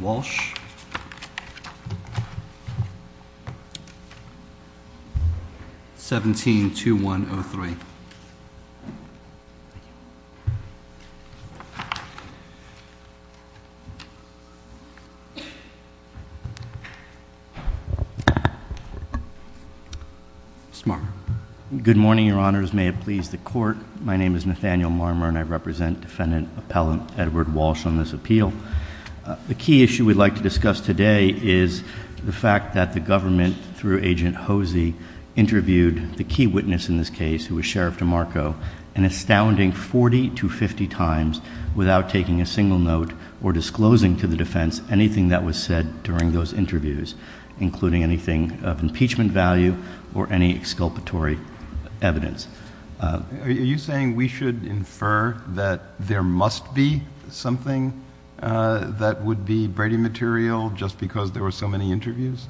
Walsh, 172103 Good morning your honors, may it please the court, I am the attorney at law and I represent defendant appellant Edward Walsh on this appeal. The key issue we'd like to discuss today is the fact that the government through agent Hosey interviewed the key witness in this case, who was Sheriff DeMarco, an astounding 40 to 50 times without taking a single note or disclosing to the defense anything that was said during those interviews, including anything of impeachment value or any exculpatory evidence. Are you saying we should infer that there must be something that would be Brady material just because there were so many interviews?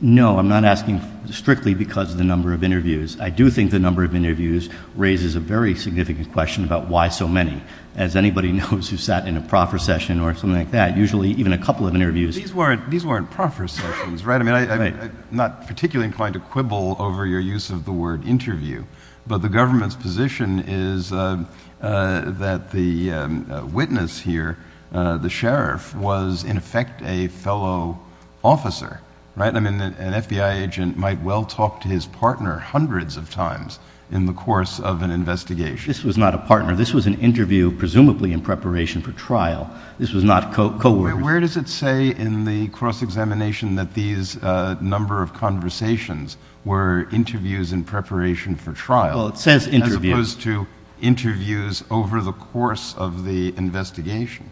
No, I'm not asking strictly because of the number of interviews. I do think the number of interviews raises a very significant question about why so many. As anybody knows who sat in a proffer session or something like that, usually even a couple of interviews. These weren't proffer sessions, right? I'm not particularly inclined to quibble over your use of the word interview, but the government's position is that the witness here, the sheriff, was in effect a fellow officer, right? I mean an FBI agent might well talk to his partner hundreds of times in the course of an investigation. This was not a partner. This was an interview presumably in preparation for trial. This was not co-ordination. Where does it say in the cross-examination that these number of conversations were interviews in preparation for trial as opposed to interviews over the course of the investigation,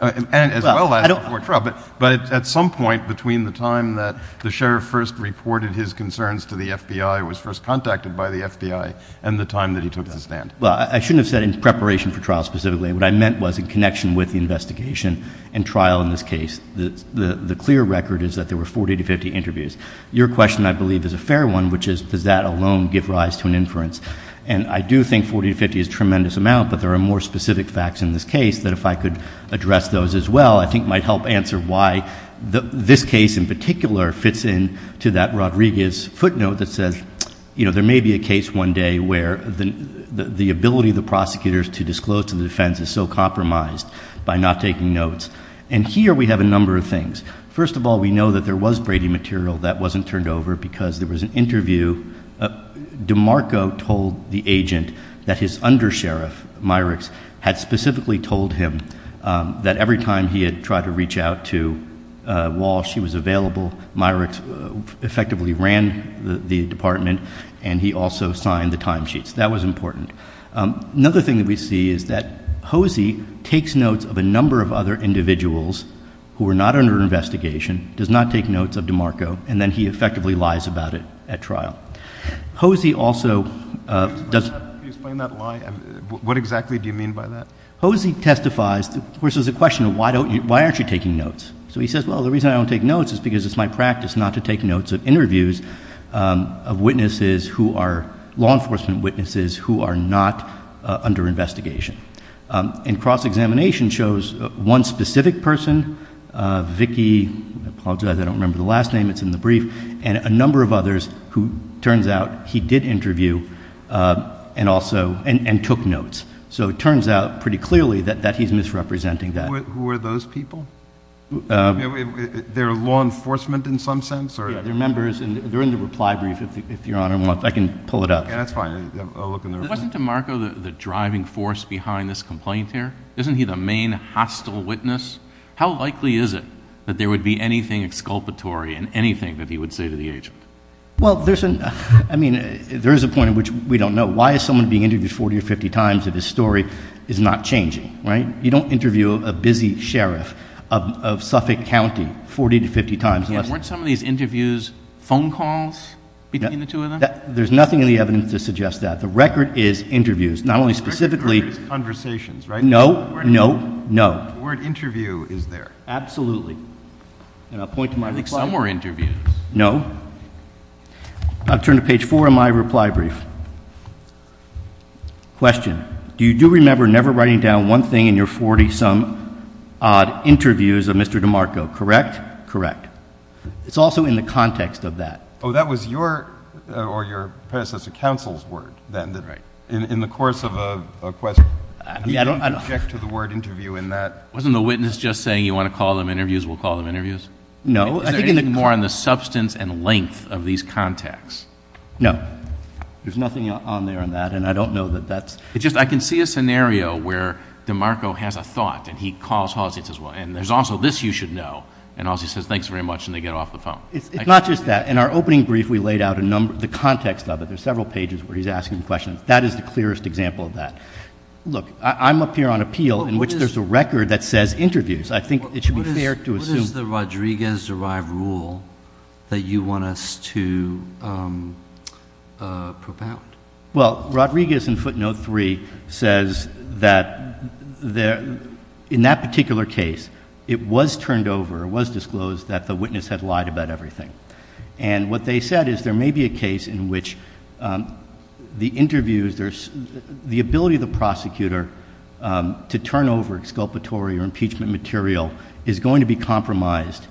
as well as before trial, but at some point between the time that the sheriff first reported his concerns to the FBI, was first contacted by the FBI, and the time that he took the stand? Well, I shouldn't have said in preparation for trial specifically. What I meant was in connection with the investigation and trial in this case, the clear record is that there were 40 to 50 interviews. Your question, I believe, is a fair one, which is does that alone give rise to an inference? And I do think 40 to 50 is a tremendous amount, but there are more specific facts in this case that if I could address those as well, I think might help answer why this case in particular fits in to that Rodriguez footnote that says, you know, there may be a case one day where the ability of the prosecutors to disclose to the defense is so compromised by not taking notes. And here we have a number of things. First of all, we know that there was Brady material that wasn't turned over because there was an interview. DeMarco told the agent that his undersheriff, Myricks, had specifically told him that every time he had tried to reach out to Walsh, he was available. Myricks effectively ran the department and he also signed the timesheets. That was important. Another thing that we see is that Hosey takes notes of a number of other individuals who were not under investigation, does not take notes of DeMarco, and then he effectively lies about it at trial. Hosey also does... Can you explain that lie? What exactly do you mean by that? Hosey testifies, of course, there's a question of why aren't you taking notes? So he says, well, the reason I don't take notes is because it's my practice not to take notes of interviews of witnesses who are law enforcement witnesses who are not under investigation. And cross-examination shows one specific person, Vicky, I apologize, I don't remember the last name, it's in the brief, and a number of others who turns out he did interview and took notes. So it turns out pretty clearly that he's misrepresenting that. Who are those people? They're law enforcement in some sense? Yeah, they're members, and they're in the reply brief, if Your Honor wants, I can pull it up. Yeah, that's fine. I'll look in the reply. Wasn't DeMarco the driving force behind this complaint here? Isn't he the main hostile witness? How likely is it that there would be anything exculpatory in anything that he would say to the agent? Well, there's a point at which we don't know. Why is someone being interviewed 40 or 50 times if his story is not changing, right? You don't interview a busy sheriff of Suffolk County 40 to 50 times. Yeah, weren't some of these interviews phone calls between the two of them? There's nothing in the evidence to suggest that. The record is interviews. Not only specifically. The record is conversations, right? No. No. No. The word interview is there. Absolutely. And I'll point to my reply. I think some were interviews. No. I'll turn to page four of my reply brief. Question. Do you do remember never writing down one thing in your 40 some odd interviews of Mr. DeMarco? Correct? Correct. It's also in the context of that. Oh, that was your predecessor counsel's word, then, that in the course of a question, you don't object to the word interview in that? Wasn't the witness just saying, you want to call them interviews, we'll call them interviews? No. Is there anything more on the substance and length of these contacts? No. There's nothing on there on that, and I don't know that that's... I can see a scenario where DeMarco has a thought, and he calls Halsey and says, well, and there's also this you should know, and Halsey says, thanks very much, and they get off the phone. It's not just that. In our opening brief, we laid out the context of it. There's several pages where he's asking questions. That is the clearest example of that. Look, I'm up here on appeal, in which there's a record that says interviews. I think it should be fair to assume... that you want us to propound. Well, Rodriguez in footnote three says that in that particular case, it was turned over, it was disclosed that the witness had lied about everything. What they said is there may be a case in which the interviews, the ability of the prosecutor to turn over exculpatory or impeachment material is going to be compromised,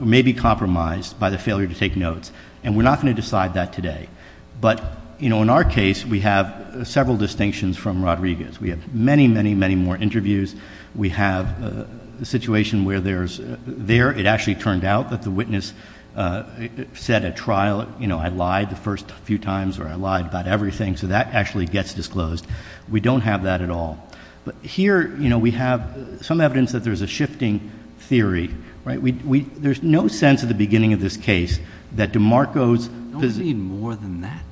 may be compromised by the failure to take notes, and we're not going to decide that today, but in our case, we have several distinctions from Rodriguez. We have many, many, many more interviews. We have a situation where there's... There, it actually turned out that the witness said at trial, I lied the first few times or I lied about everything, so that actually gets disclosed. We don't have that at all. But here, you know, we have some evidence that there's a shifting theory, right? We... There's no sense at the beginning of this case that DeMarco's... Don't we need more than that?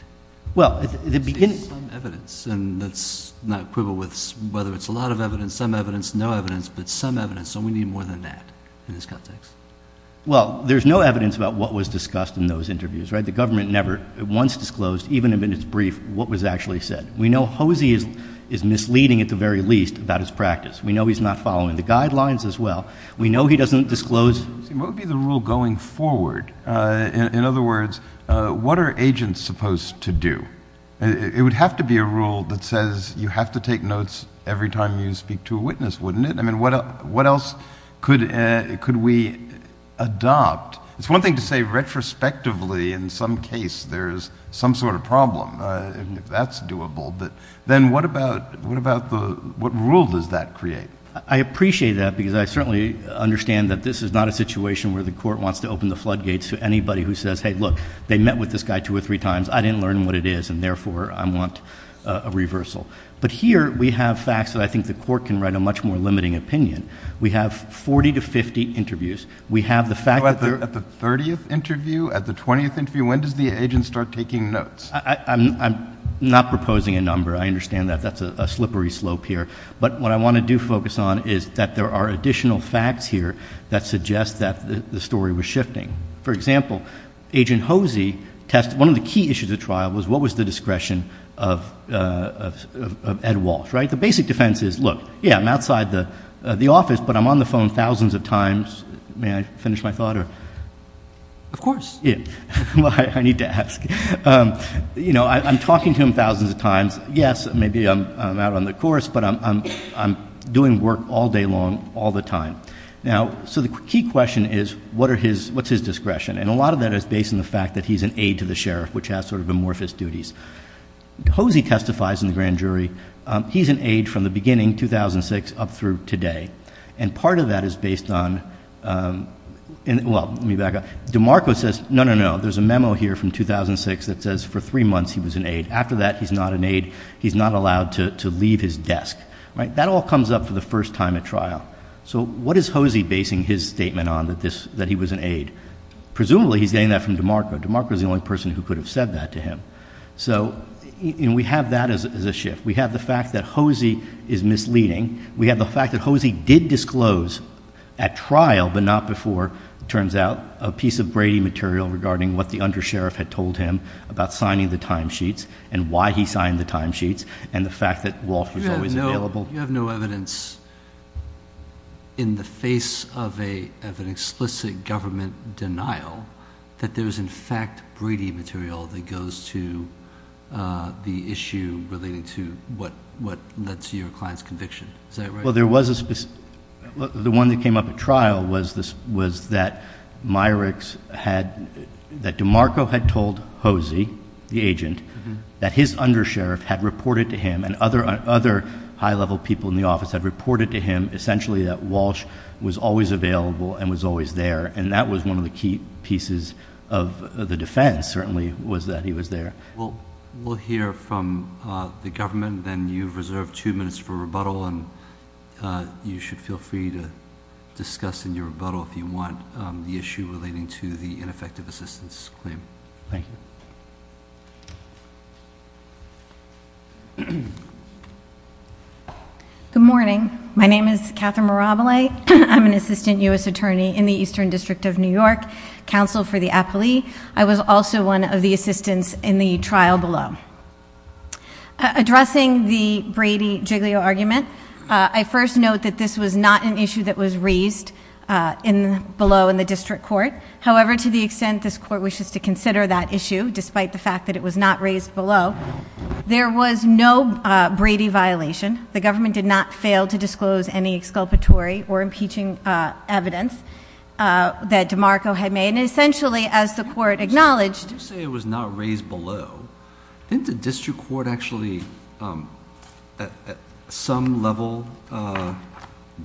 Well, at the beginning... Some evidence, and that's not equivalent with whether it's a lot of evidence, some evidence, no evidence, but some evidence, so we need more than that in this context. Well, there's no evidence about what was discussed in those interviews, right? The government never, once disclosed, even in its brief, what was actually said. We know Hosie is misleading, at the very least, about his practice. We know he's not following the guidelines as well. We know he doesn't disclose... What would be the rule going forward? In other words, what are agents supposed to do? It would have to be a rule that says you have to take notes every time you speak to a witness, wouldn't it? I mean, what else could we adopt? It's one thing to say retrospectively, in some case, there's some sort of problem. If that's doable, then what rule does that create? I appreciate that because I certainly understand that this is not a situation where the court wants to open the floodgates to anybody who says, hey, look, they met with this guy two or three times. I didn't learn what it is, and therefore, I want a reversal. But here, we have facts that I think the court can write a much more limiting opinion. We have 40 to 50 interviews. We have the fact that they're... At the 30th interview, at the 20th interview, when does the agent start taking notes? I'm not proposing a number. I understand that that's a slippery slope here. But what I want to do focus on is that there are additional facts here that suggest that the story was shifting. For example, Agent Hosey tested, one of the key issues of the trial was what was the discretion of Ed Walsh, right? The basic defense is, look, yeah, I'm outside the office, but I'm on the phone thousands of times. May I finish my thought or? Of course. Yeah, well, I need to ask. You know, I'm talking to him thousands of times. Yes, maybe I'm out on the course, but I'm doing work all day long, all the time. Now, so the key question is, what's his discretion? And a lot of that is based on the fact that he's an aide to the sheriff, which has sort of amorphous duties. Hosey testifies in the grand jury. He's an aide from the beginning, 2006, up through today. And part of that is based on, well, let me back up. DeMarco says, no, no, no, there's a memo here from 2006 that says for three months he was an aide. After that, he's not an aide. He's not allowed to leave his desk, right? That all comes up for the first time at trial. So what is Hosey basing his statement on, that he was an aide? Presumably, he's getting that from DeMarco. DeMarco's the only person who could have said that to him. So we have that as a shift. We have the fact that Hosey is misleading. We have the fact that Hosey did disclose at trial, but not before, it turns out, a piece of Brady material regarding what the undersheriff had told him about signing the timesheets, and why he signed the timesheets, and the fact that Rolfe was always available. You have no evidence in the face of an explicit government denial that there's, in fact, Brady material that goes to the issue relating to what led to your client's conviction. Is that right? Well, the one that came up at trial was that DeMarco had told Hosey, the agent, that his undersheriff had reported to him, and other high-level people in the office had reported to him, essentially, that Walsh was always available and was always there. And that was one of the key pieces of the defense, certainly, was that he was there. We'll hear from the government, and you've reserved two minutes for rebuttal. And you should feel free to discuss in your rebuttal if you want the issue relating to the ineffective assistance claim. Thank you. Good morning. My name is Catherine Mirabile. I'm an assistant US attorney in the Eastern District of New York, counsel for the appellee. I was also one of the assistants in the trial below. Addressing the Brady-Giglio argument, I first note that this was not an issue that was raised below in the district court. However, to the extent this court wishes to consider that issue, despite the fact that it was not raised below, there was no Brady violation. The government did not fail to disclose any exculpatory or impeaching evidence that DeMarco had made. And essentially, as the court acknowledged- You say it was not raised below. Didn't the district court actually, at some level,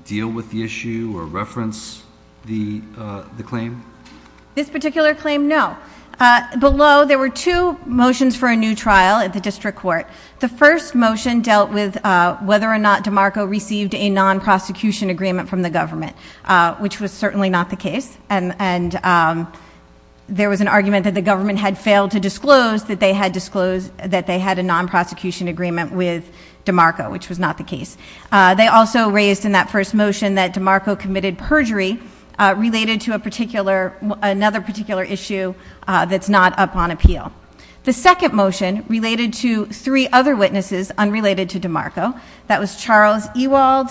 deal with the issue or reference the claim? This particular claim, no. Below, there were two motions for a new trial at the district court. The first motion dealt with whether or not DeMarco received a non-prosecution agreement from the government, which was certainly not the case. And there was an argument that the government had failed to disclose that they had a non-prosecution agreement with DeMarco, which was not the case. They also raised in that first motion that DeMarco committed perjury related to another particular issue that's not up on appeal. The second motion related to three other witnesses unrelated to DeMarco. That was Charles Ewald,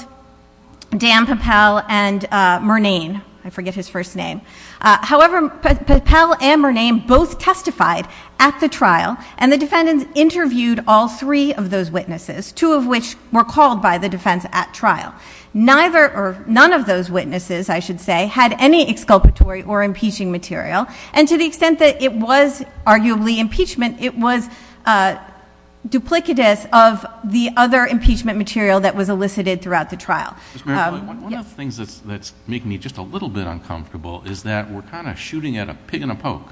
Dan Papel, and Murnane. I forget his first name. However, Papel and Murnane both testified at the trial, and the defendants interviewed all three of those witnesses, two of which were called by the defense at trial. None of those witnesses, I should say, had any exculpatory or impeaching material. And to the extent that it was arguably impeachment, it was duplicitous of the other impeachment material that was elicited throughout the trial. Yes. One of the things that's making me just a little bit uncomfortable is that we're kind of shooting at a pig in a poke.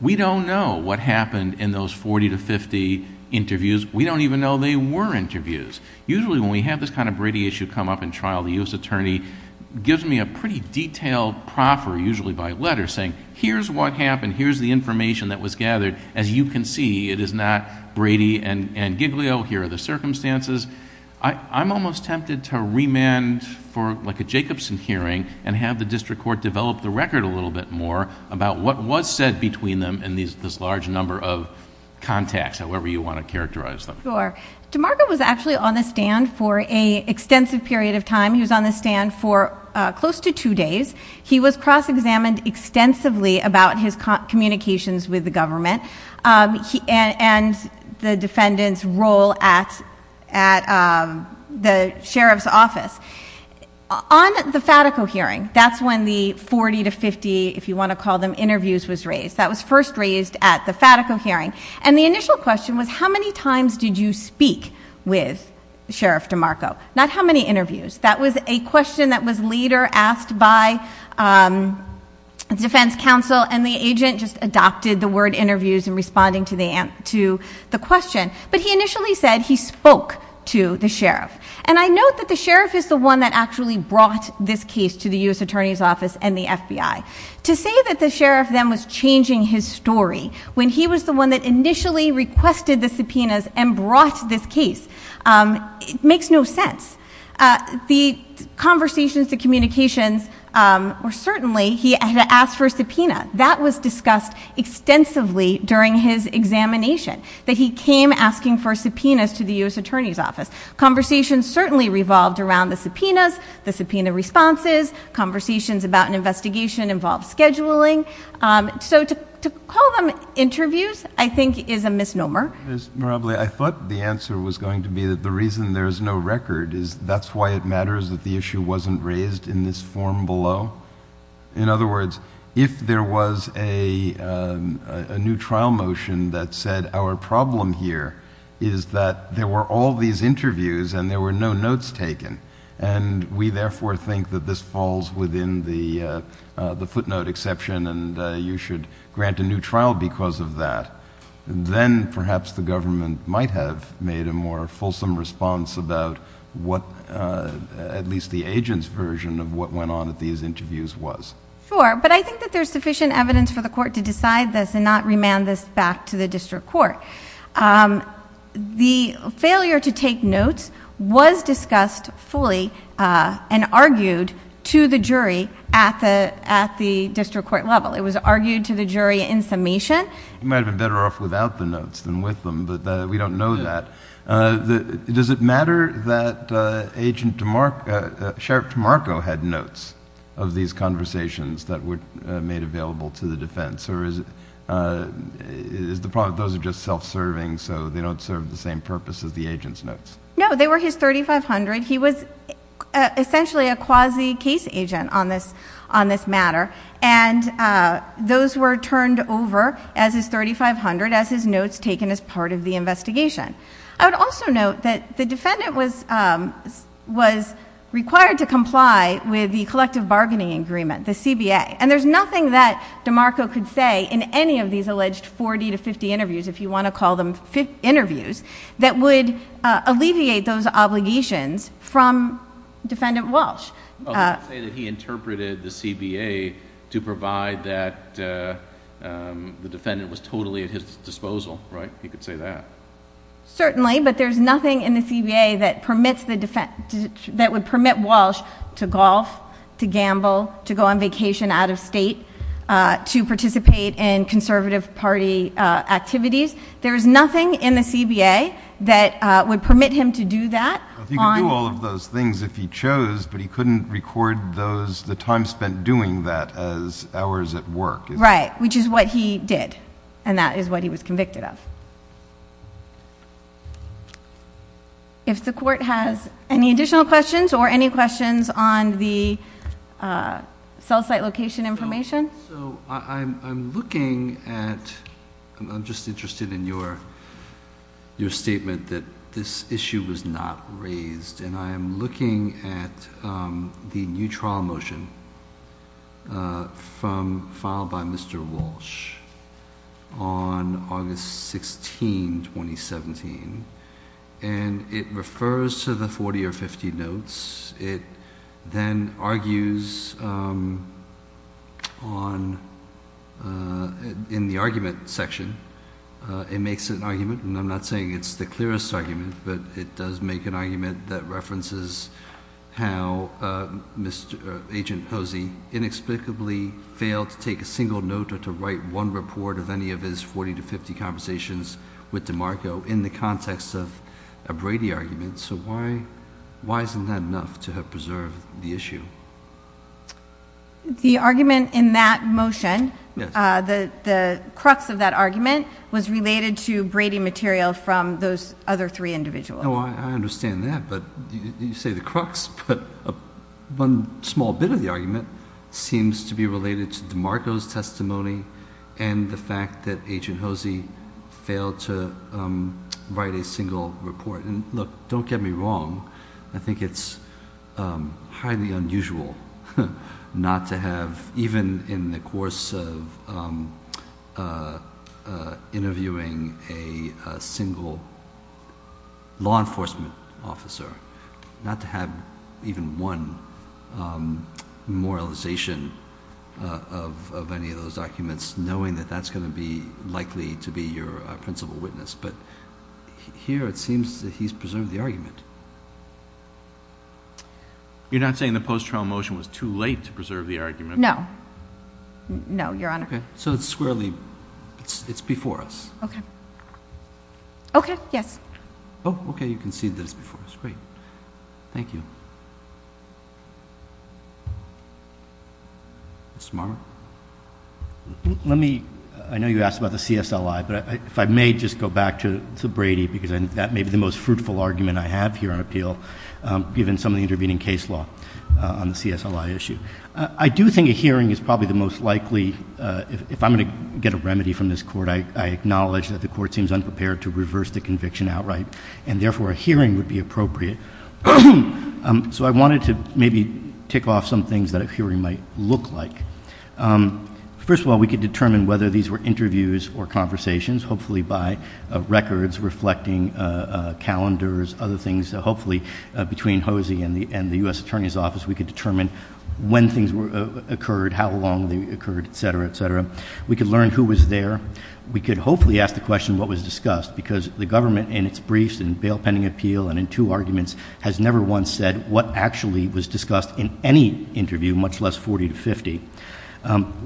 We don't know what happened in those 40 to 50 interviews. We don't even know they were interviews. Usually when we have this kind of Brady issue come up in trial, the U.S. Here's what happened. Here's the information that was gathered. As you can see, it is not Brady and Giglio. Here are the circumstances. I'm almost tempted to remand for like a Jacobson hearing and have the district court develop the record a little bit more about what was said between them in this large number of contacts, however you want to characterize them. Sure. DeMarco was actually on the stand for an extensive period of time. He was on the stand for close to two days. He was cross-examined extensively about his communications with the government and the defendant's role at the sheriff's office. On the Fatico hearing, that's when the 40 to 50, if you want to call them, interviews was raised. That was first raised at the Fatico hearing. And the initial question was, how many times did you speak with Sheriff DeMarco? Not how many interviews. That was a question that was later asked by defense counsel and the agent just adopted the word interviews in responding to the question. But he initially said he spoke to the sheriff. And I note that the sheriff is the one that actually brought this case to the US Attorney's Office and the FBI. To say that the sheriff then was changing his story when he was the one that initially requested the subpoenas and brought this case, it makes no sense. The conversations, the communications were certainly, he had asked for a subpoena. That was discussed extensively during his examination, that he came asking for subpoenas to the US Attorney's Office. Conversations certainly revolved around the subpoenas, the subpoena responses, conversations about an investigation involved scheduling. So to call them interviews, I think, is a misnomer. Mr. Mirably, I thought the answer was going to be that the reason there's no record is that's why it matters that the issue wasn't raised in this form below. In other words, if there was a new trial motion that said, our problem here is that there were all these interviews and there were no notes taken. And we therefore think that this falls within the footnote exception and you should grant a new trial because of that. Then perhaps the government might have made a more fulsome response about what, at least the agent's version of what went on at these interviews was. Sure, but I think that there's sufficient evidence for the court to decide this and not remand this back to the district court. The failure to take notes was discussed fully and argued to the jury at the district court level. It was argued to the jury in summation. You might have been better off without the notes than with them, but we don't know that. Does it matter that Sheriff DeMarco had notes of these conversations that were made available to the defense? Or is the problem that those are just self-serving, so they don't serve the same purpose as the agent's notes? No, they were his 3,500. He was essentially a quasi case agent on this matter. And those were turned over as his 3,500 as his notes taken as part of the investigation. I would also note that the defendant was required to comply with the collective bargaining agreement, the CBA. And there's nothing that DeMarco could say in any of these alleged 40 to 50 interviews, if you want to call them interviews, that would alleviate those obligations from Defendant Walsh. I would say that he interpreted the CBA to provide that the defendant was totally at his disposal, right? He could say that. Certainly, but there's nothing in the CBA that would permit Walsh to golf, to gamble, to go on vacation out of state, to participate in conservative party activities. There is nothing in the CBA that would permit him to do that. He could do all of those things if he chose, but he couldn't record the time spent doing that as hours at work. Right, which is what he did. And that is what he was convicted of. If the court has any additional questions or any questions on the cell site location information. So I'm looking at, I'm just interested in your statement that this issue was not raised. And I am looking at the new trial motion from filed by Mr. Walsh on August 16, 2017. And it refers to the 40 or 50 notes. It then argues in the argument section, it makes an argument. And I'm not saying it's the clearest argument, but it does make an argument that references how Agent Hosey inexplicably failed to take a single note or to write one report of any of his 40 to 50 conversations with DeMarco in the context of a Brady argument. So why isn't that enough to have preserved the issue? The argument in that motion, the crux of that argument was related to Brady material from those other three individuals. No, I understand that, but you say the crux, but one small bit of the argument seems to be related to DeMarco's testimony and the fact that Agent Hosey failed to write a single report. Look, don't get me wrong, I think it's highly unusual not to have, even in the course of interviewing a single law enforcement officer, not to have even one memorialization of any of those documents, knowing that that's going to be likely to be your principal witness. But here it seems that he's preserved the argument. You're not saying the post-trial motion was too late to preserve the argument? No. No, Your Honor. So it's squarely, it's before us. Okay. Okay, yes. Oh, okay, you concede that it's before us. Great. Thank you. Mr. Marmer? Let me, I know you asked about the CSLI, but if I may just go back to Brady, because that may be the most fruitful argument I have here on appeal, given some of the intervening case law on the CSLI issue. I do think a hearing is probably the most likely, if I'm going to get a remedy from this court, I acknowledge that the court seems unprepared to reverse the conviction outright, and therefore a hearing would be appropriate. So I wanted to maybe tick off some things that a hearing might look like. First of all, we could determine whether these were interviews or conversations, hopefully by records reflecting calendars, other things. Hopefully between Hosey and the U.S. Attorney's Office, we could determine when things occurred, how long they occurred, et cetera, et cetera. We could learn who was there. We could hopefully ask the question what was discussed, because the government in its briefs and bail pending appeal and in two arguments has never once said what actually was discussed in any interview, much less 40 to 50.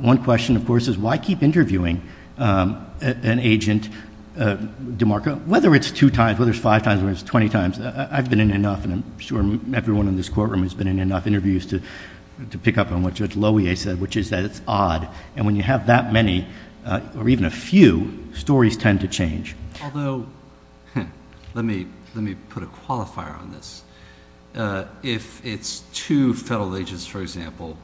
One question, of course, is why keep interviewing an agent, DeMarco, whether it's two times, whether it's five times, whether it's 20 times. I've been in enough, and I'm sure everyone in this courtroom has been in enough interviews to pick up on what Judge Loewe said, which is that it's odd. And when you have that many, or even a few, stories tend to change. Although, let me put a qualifier on this. If it's two federal agents, for example,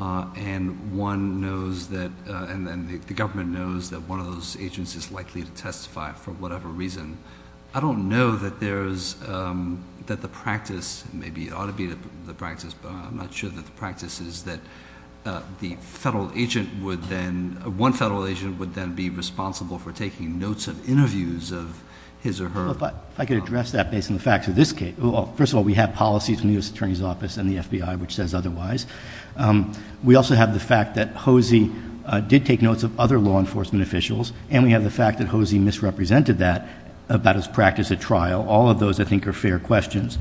and one knows that, and then the government knows that one of those agents is likely to testify for whatever reason, I don't know that there's, that the practice, maybe it ought to be the practice, but I'm not sure that the practice is that the federal agent would then, one federal agent would then be responsible for taking notes of interviews of his or her. But I could address that based on the facts of this case. First of all, we have policies in the U.S. Attorney's Office and the FBI which says otherwise. We also have the fact that Hosey did take notes of other law enforcement officials, and we have the fact that Hosey misrepresented that about his practice at trial. All of those, I think, are fair questions.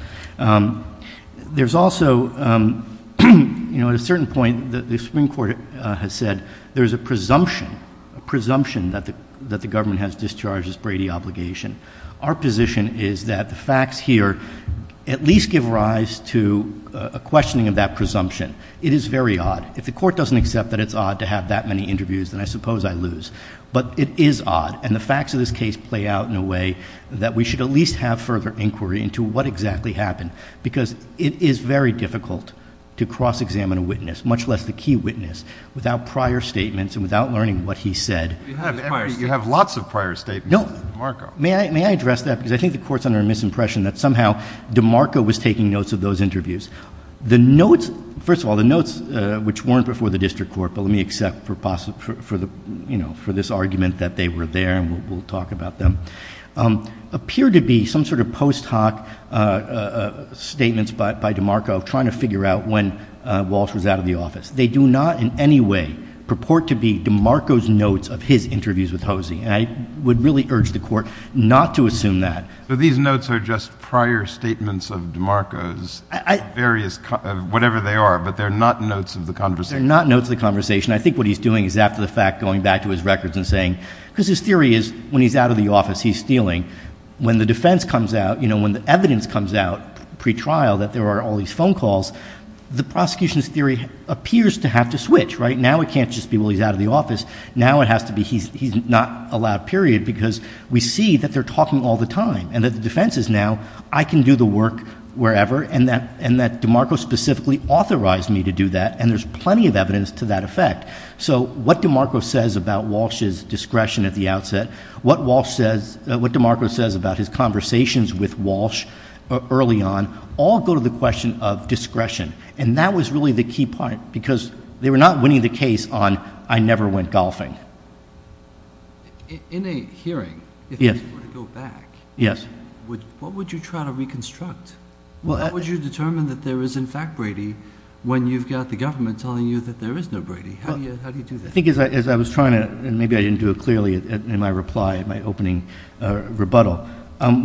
There's also, at a certain point, the Supreme Court has said there's a presumption that the government has discharged its Brady obligation. Our position is that the facts here at least give rise to a questioning of that presumption. It is very odd. If the court doesn't accept that it's odd to have that many interviews, then I suppose I lose. But it is odd, and the facts of this case play out in a way that we should at least have further inquiry into what exactly happened. Because it is very difficult to cross-examine a witness, much less the key witness, without prior statements and without learning what he said. You have lots of prior statements. No. May I address that? Because I think the court's under a misimpression that somehow DeMarco was taking notes of those interviews. The notes, first of all, the notes which weren't before the district court, but let me accept for this argument that they were there and we'll talk about them, appear to be some sort of post hoc statements by DeMarco trying to figure out when Walsh was out of the office. They do not in any way purport to be DeMarco's notes of his interviews with Hosey. And I would really urge the court not to assume that. So these notes are just prior statements of DeMarco's various, whatever they are, but they're not notes of the conversation. They're not notes of the conversation. I think what he's doing is after the fact, going back to his records and saying, because his theory is when he's out of the office, he's stealing. When the defense comes out, when the evidence comes out pre-trial that there are all these phone calls, the prosecution's theory appears to have to switch, right? Now it can't just be, well, he's out of the office. Now it has to be, he's not allowed, period, because we see that they're talking all the time. And that the defense is now, I can do the work wherever, and that DeMarco specifically authorized me to do that. And there's plenty of evidence to that effect. So what DeMarco says about Walsh's discretion at the outset, what DeMarco says about his conversations with Walsh early on, all go to the question of discretion. And that was really the key part, because they were not winning the case on, I never went golfing. In a hearing, if you were to go back, what would you try to reconstruct? How would you determine that there is in fact Brady when you've got the government telling you that there is no Brady? How do you do that? I think as I was trying to, and maybe I didn't do it clearly in my reply, in my opening rebuttal.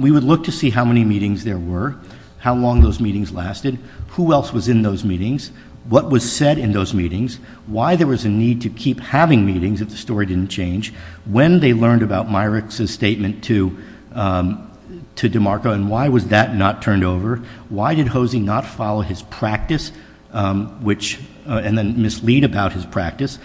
We would look to see how many meetings there were, how long those meetings lasted, who else was in those meetings, what was said in those meetings. Why there was a need to keep having meetings if the story didn't change. When they learned about Myrick's statement to DeMarco, and why was that not turned over? Why did Hosey not follow his practice, and then mislead about his practice?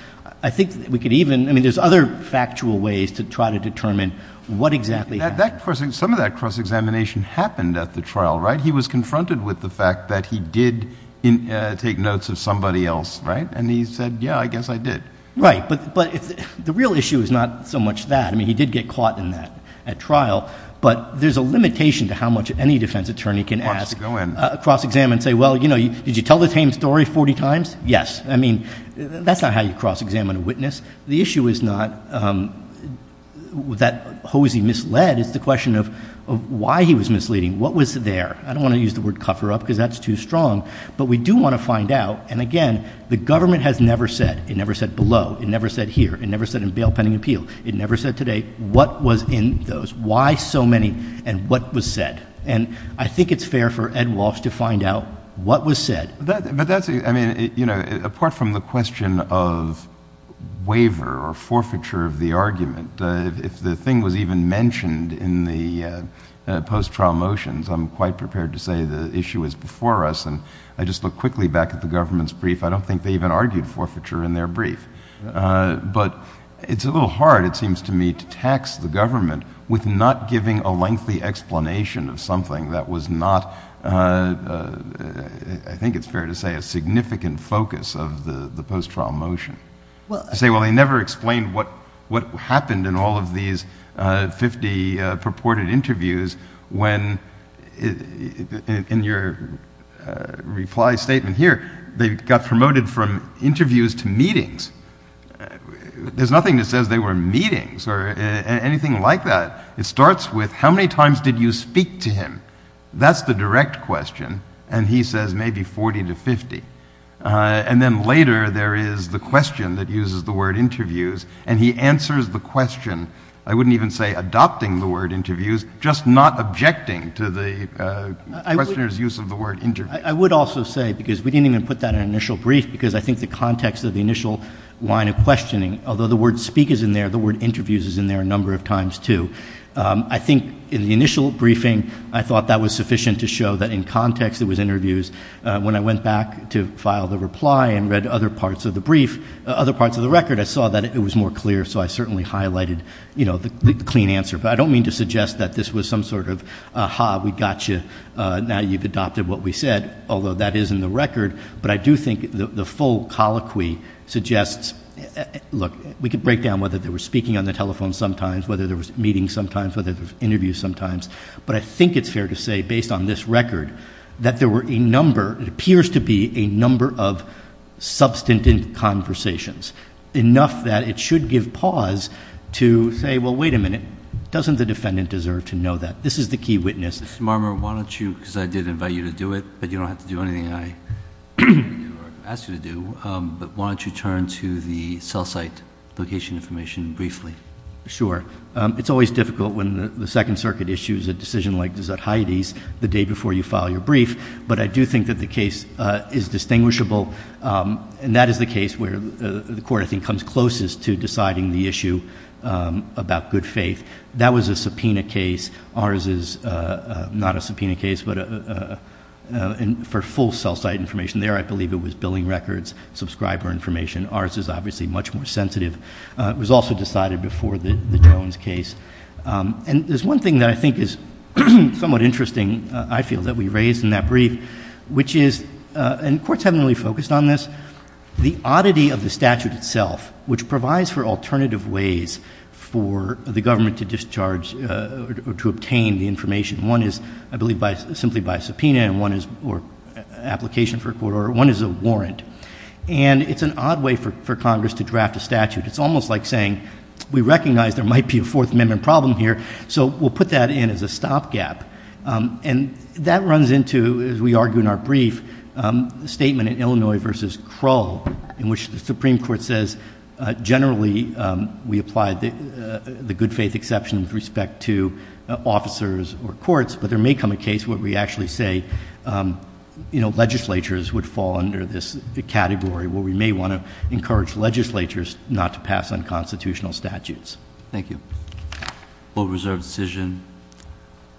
I think we could even, I mean there's other factual ways to try to determine what exactly happened. Some of that cross-examination happened at the trial, right? He was confronted with the fact that he did take notes of somebody else, right? And he said, yeah, I guess I did. Right, but the real issue is not so much that. I mean, he did get caught in that at trial. But there's a limitation to how much any defense attorney can ask a cross-examiner and say, well, did you tell the same story 40 times? Yes, I mean, that's not how you cross-examine a witness. The issue is not that Hosey misled. It's the question of why he was misleading. What was there? I don't want to use the word cover up, because that's too strong. But we do want to find out, and again, the government has never said. It never said below. It never said here. It never said in bail pending appeal. It never said today what was in those, why so many, and what was said. And I think it's fair for Ed Walsh to find out what was said. I mean, apart from the question of waiver or forfeiture of the argument, if the thing was even mentioned in the post-trial motions, I'm quite prepared to say the issue is before us. And I just look quickly back at the government's brief. I don't think they even argued forfeiture in their brief. But it's a little hard, it seems to me, to tax the government with not giving a lengthy explanation of something that was not, I think it's fair to say, a significant focus of the post-trial motion. I say, well, they never explained what happened in all of these 50 purported interviews when, in your reply statement here, they got promoted from interviews to meetings. There's nothing that says they were meetings or anything like that. It starts with, how many times did you speak to him? That's the direct question, and he says maybe 40 to 50. And then later, there is the question that uses the word interviews, and he answers the question. I wouldn't even say adopting the word interviews, just not objecting to the questioner's use of the word interview. I would also say, because we didn't even put that in an initial brief, because I think the context of the initial line of questioning, although the word speak is in there, the word interviews is in there a number of times too. I think in the initial briefing, I thought that was sufficient to show that in context, it was interviews, when I went back to file the reply and read other parts of the brief, other parts of the record, I saw that it was more clear, so I certainly highlighted the clean answer. But I don't mean to suggest that this was some sort of, aha, we got you, now you've adopted what we said, although that is in the record. But I do think the full colloquy suggests, look, we could break down whether they were speaking on the telephone sometimes, whether there was meetings sometimes, whether there was interviews sometimes. But I think it's fair to say, based on this record, that there were a number, it appears to be a number of substantive conversations, enough that it should give pause to say, well, wait a minute. Doesn't the defendant deserve to know that? This is the key witness. Mr. Marmer, why don't you, because I did invite you to do it, but you don't have to do anything I ask you to do. But why don't you turn to the cell site location information briefly? Sure. It's always difficult when the Second Circuit issues a decision like Desert Heidi's the day before you file your brief. But I do think that the case is distinguishable, and that is the case where the court, I think, comes closest to deciding the issue about good faith. That was a subpoena case. Ours is not a subpoena case, but for full cell site information there, I believe it was billing records, subscriber information. Ours is obviously much more sensitive. It was also decided before the Jones case. And there's one thing that I think is somewhat interesting, I feel, that we raised in that brief, which is, and courts haven't really focused on this, the oddity of the statute itself, which provides for alternative ways for the government to discharge or to obtain the information. One is, I believe, simply by subpoena, or application for a court order, one is a warrant. And it's an odd way for Congress to draft a statute. It's almost like saying, we recognize there might be a Fourth Amendment problem here, so we'll put that in as a stop gap. And that runs into, as we argue in our brief, the statement in Illinois versus Krull, in which the Supreme Court says, generally, we apply the good faith exception with respect to officers or courts. But there may come a case where we actually say, legislatures would fall under this category, where we may want to encourage legislatures not to pass unconstitutional statutes. Thank you. Vote reserved decision.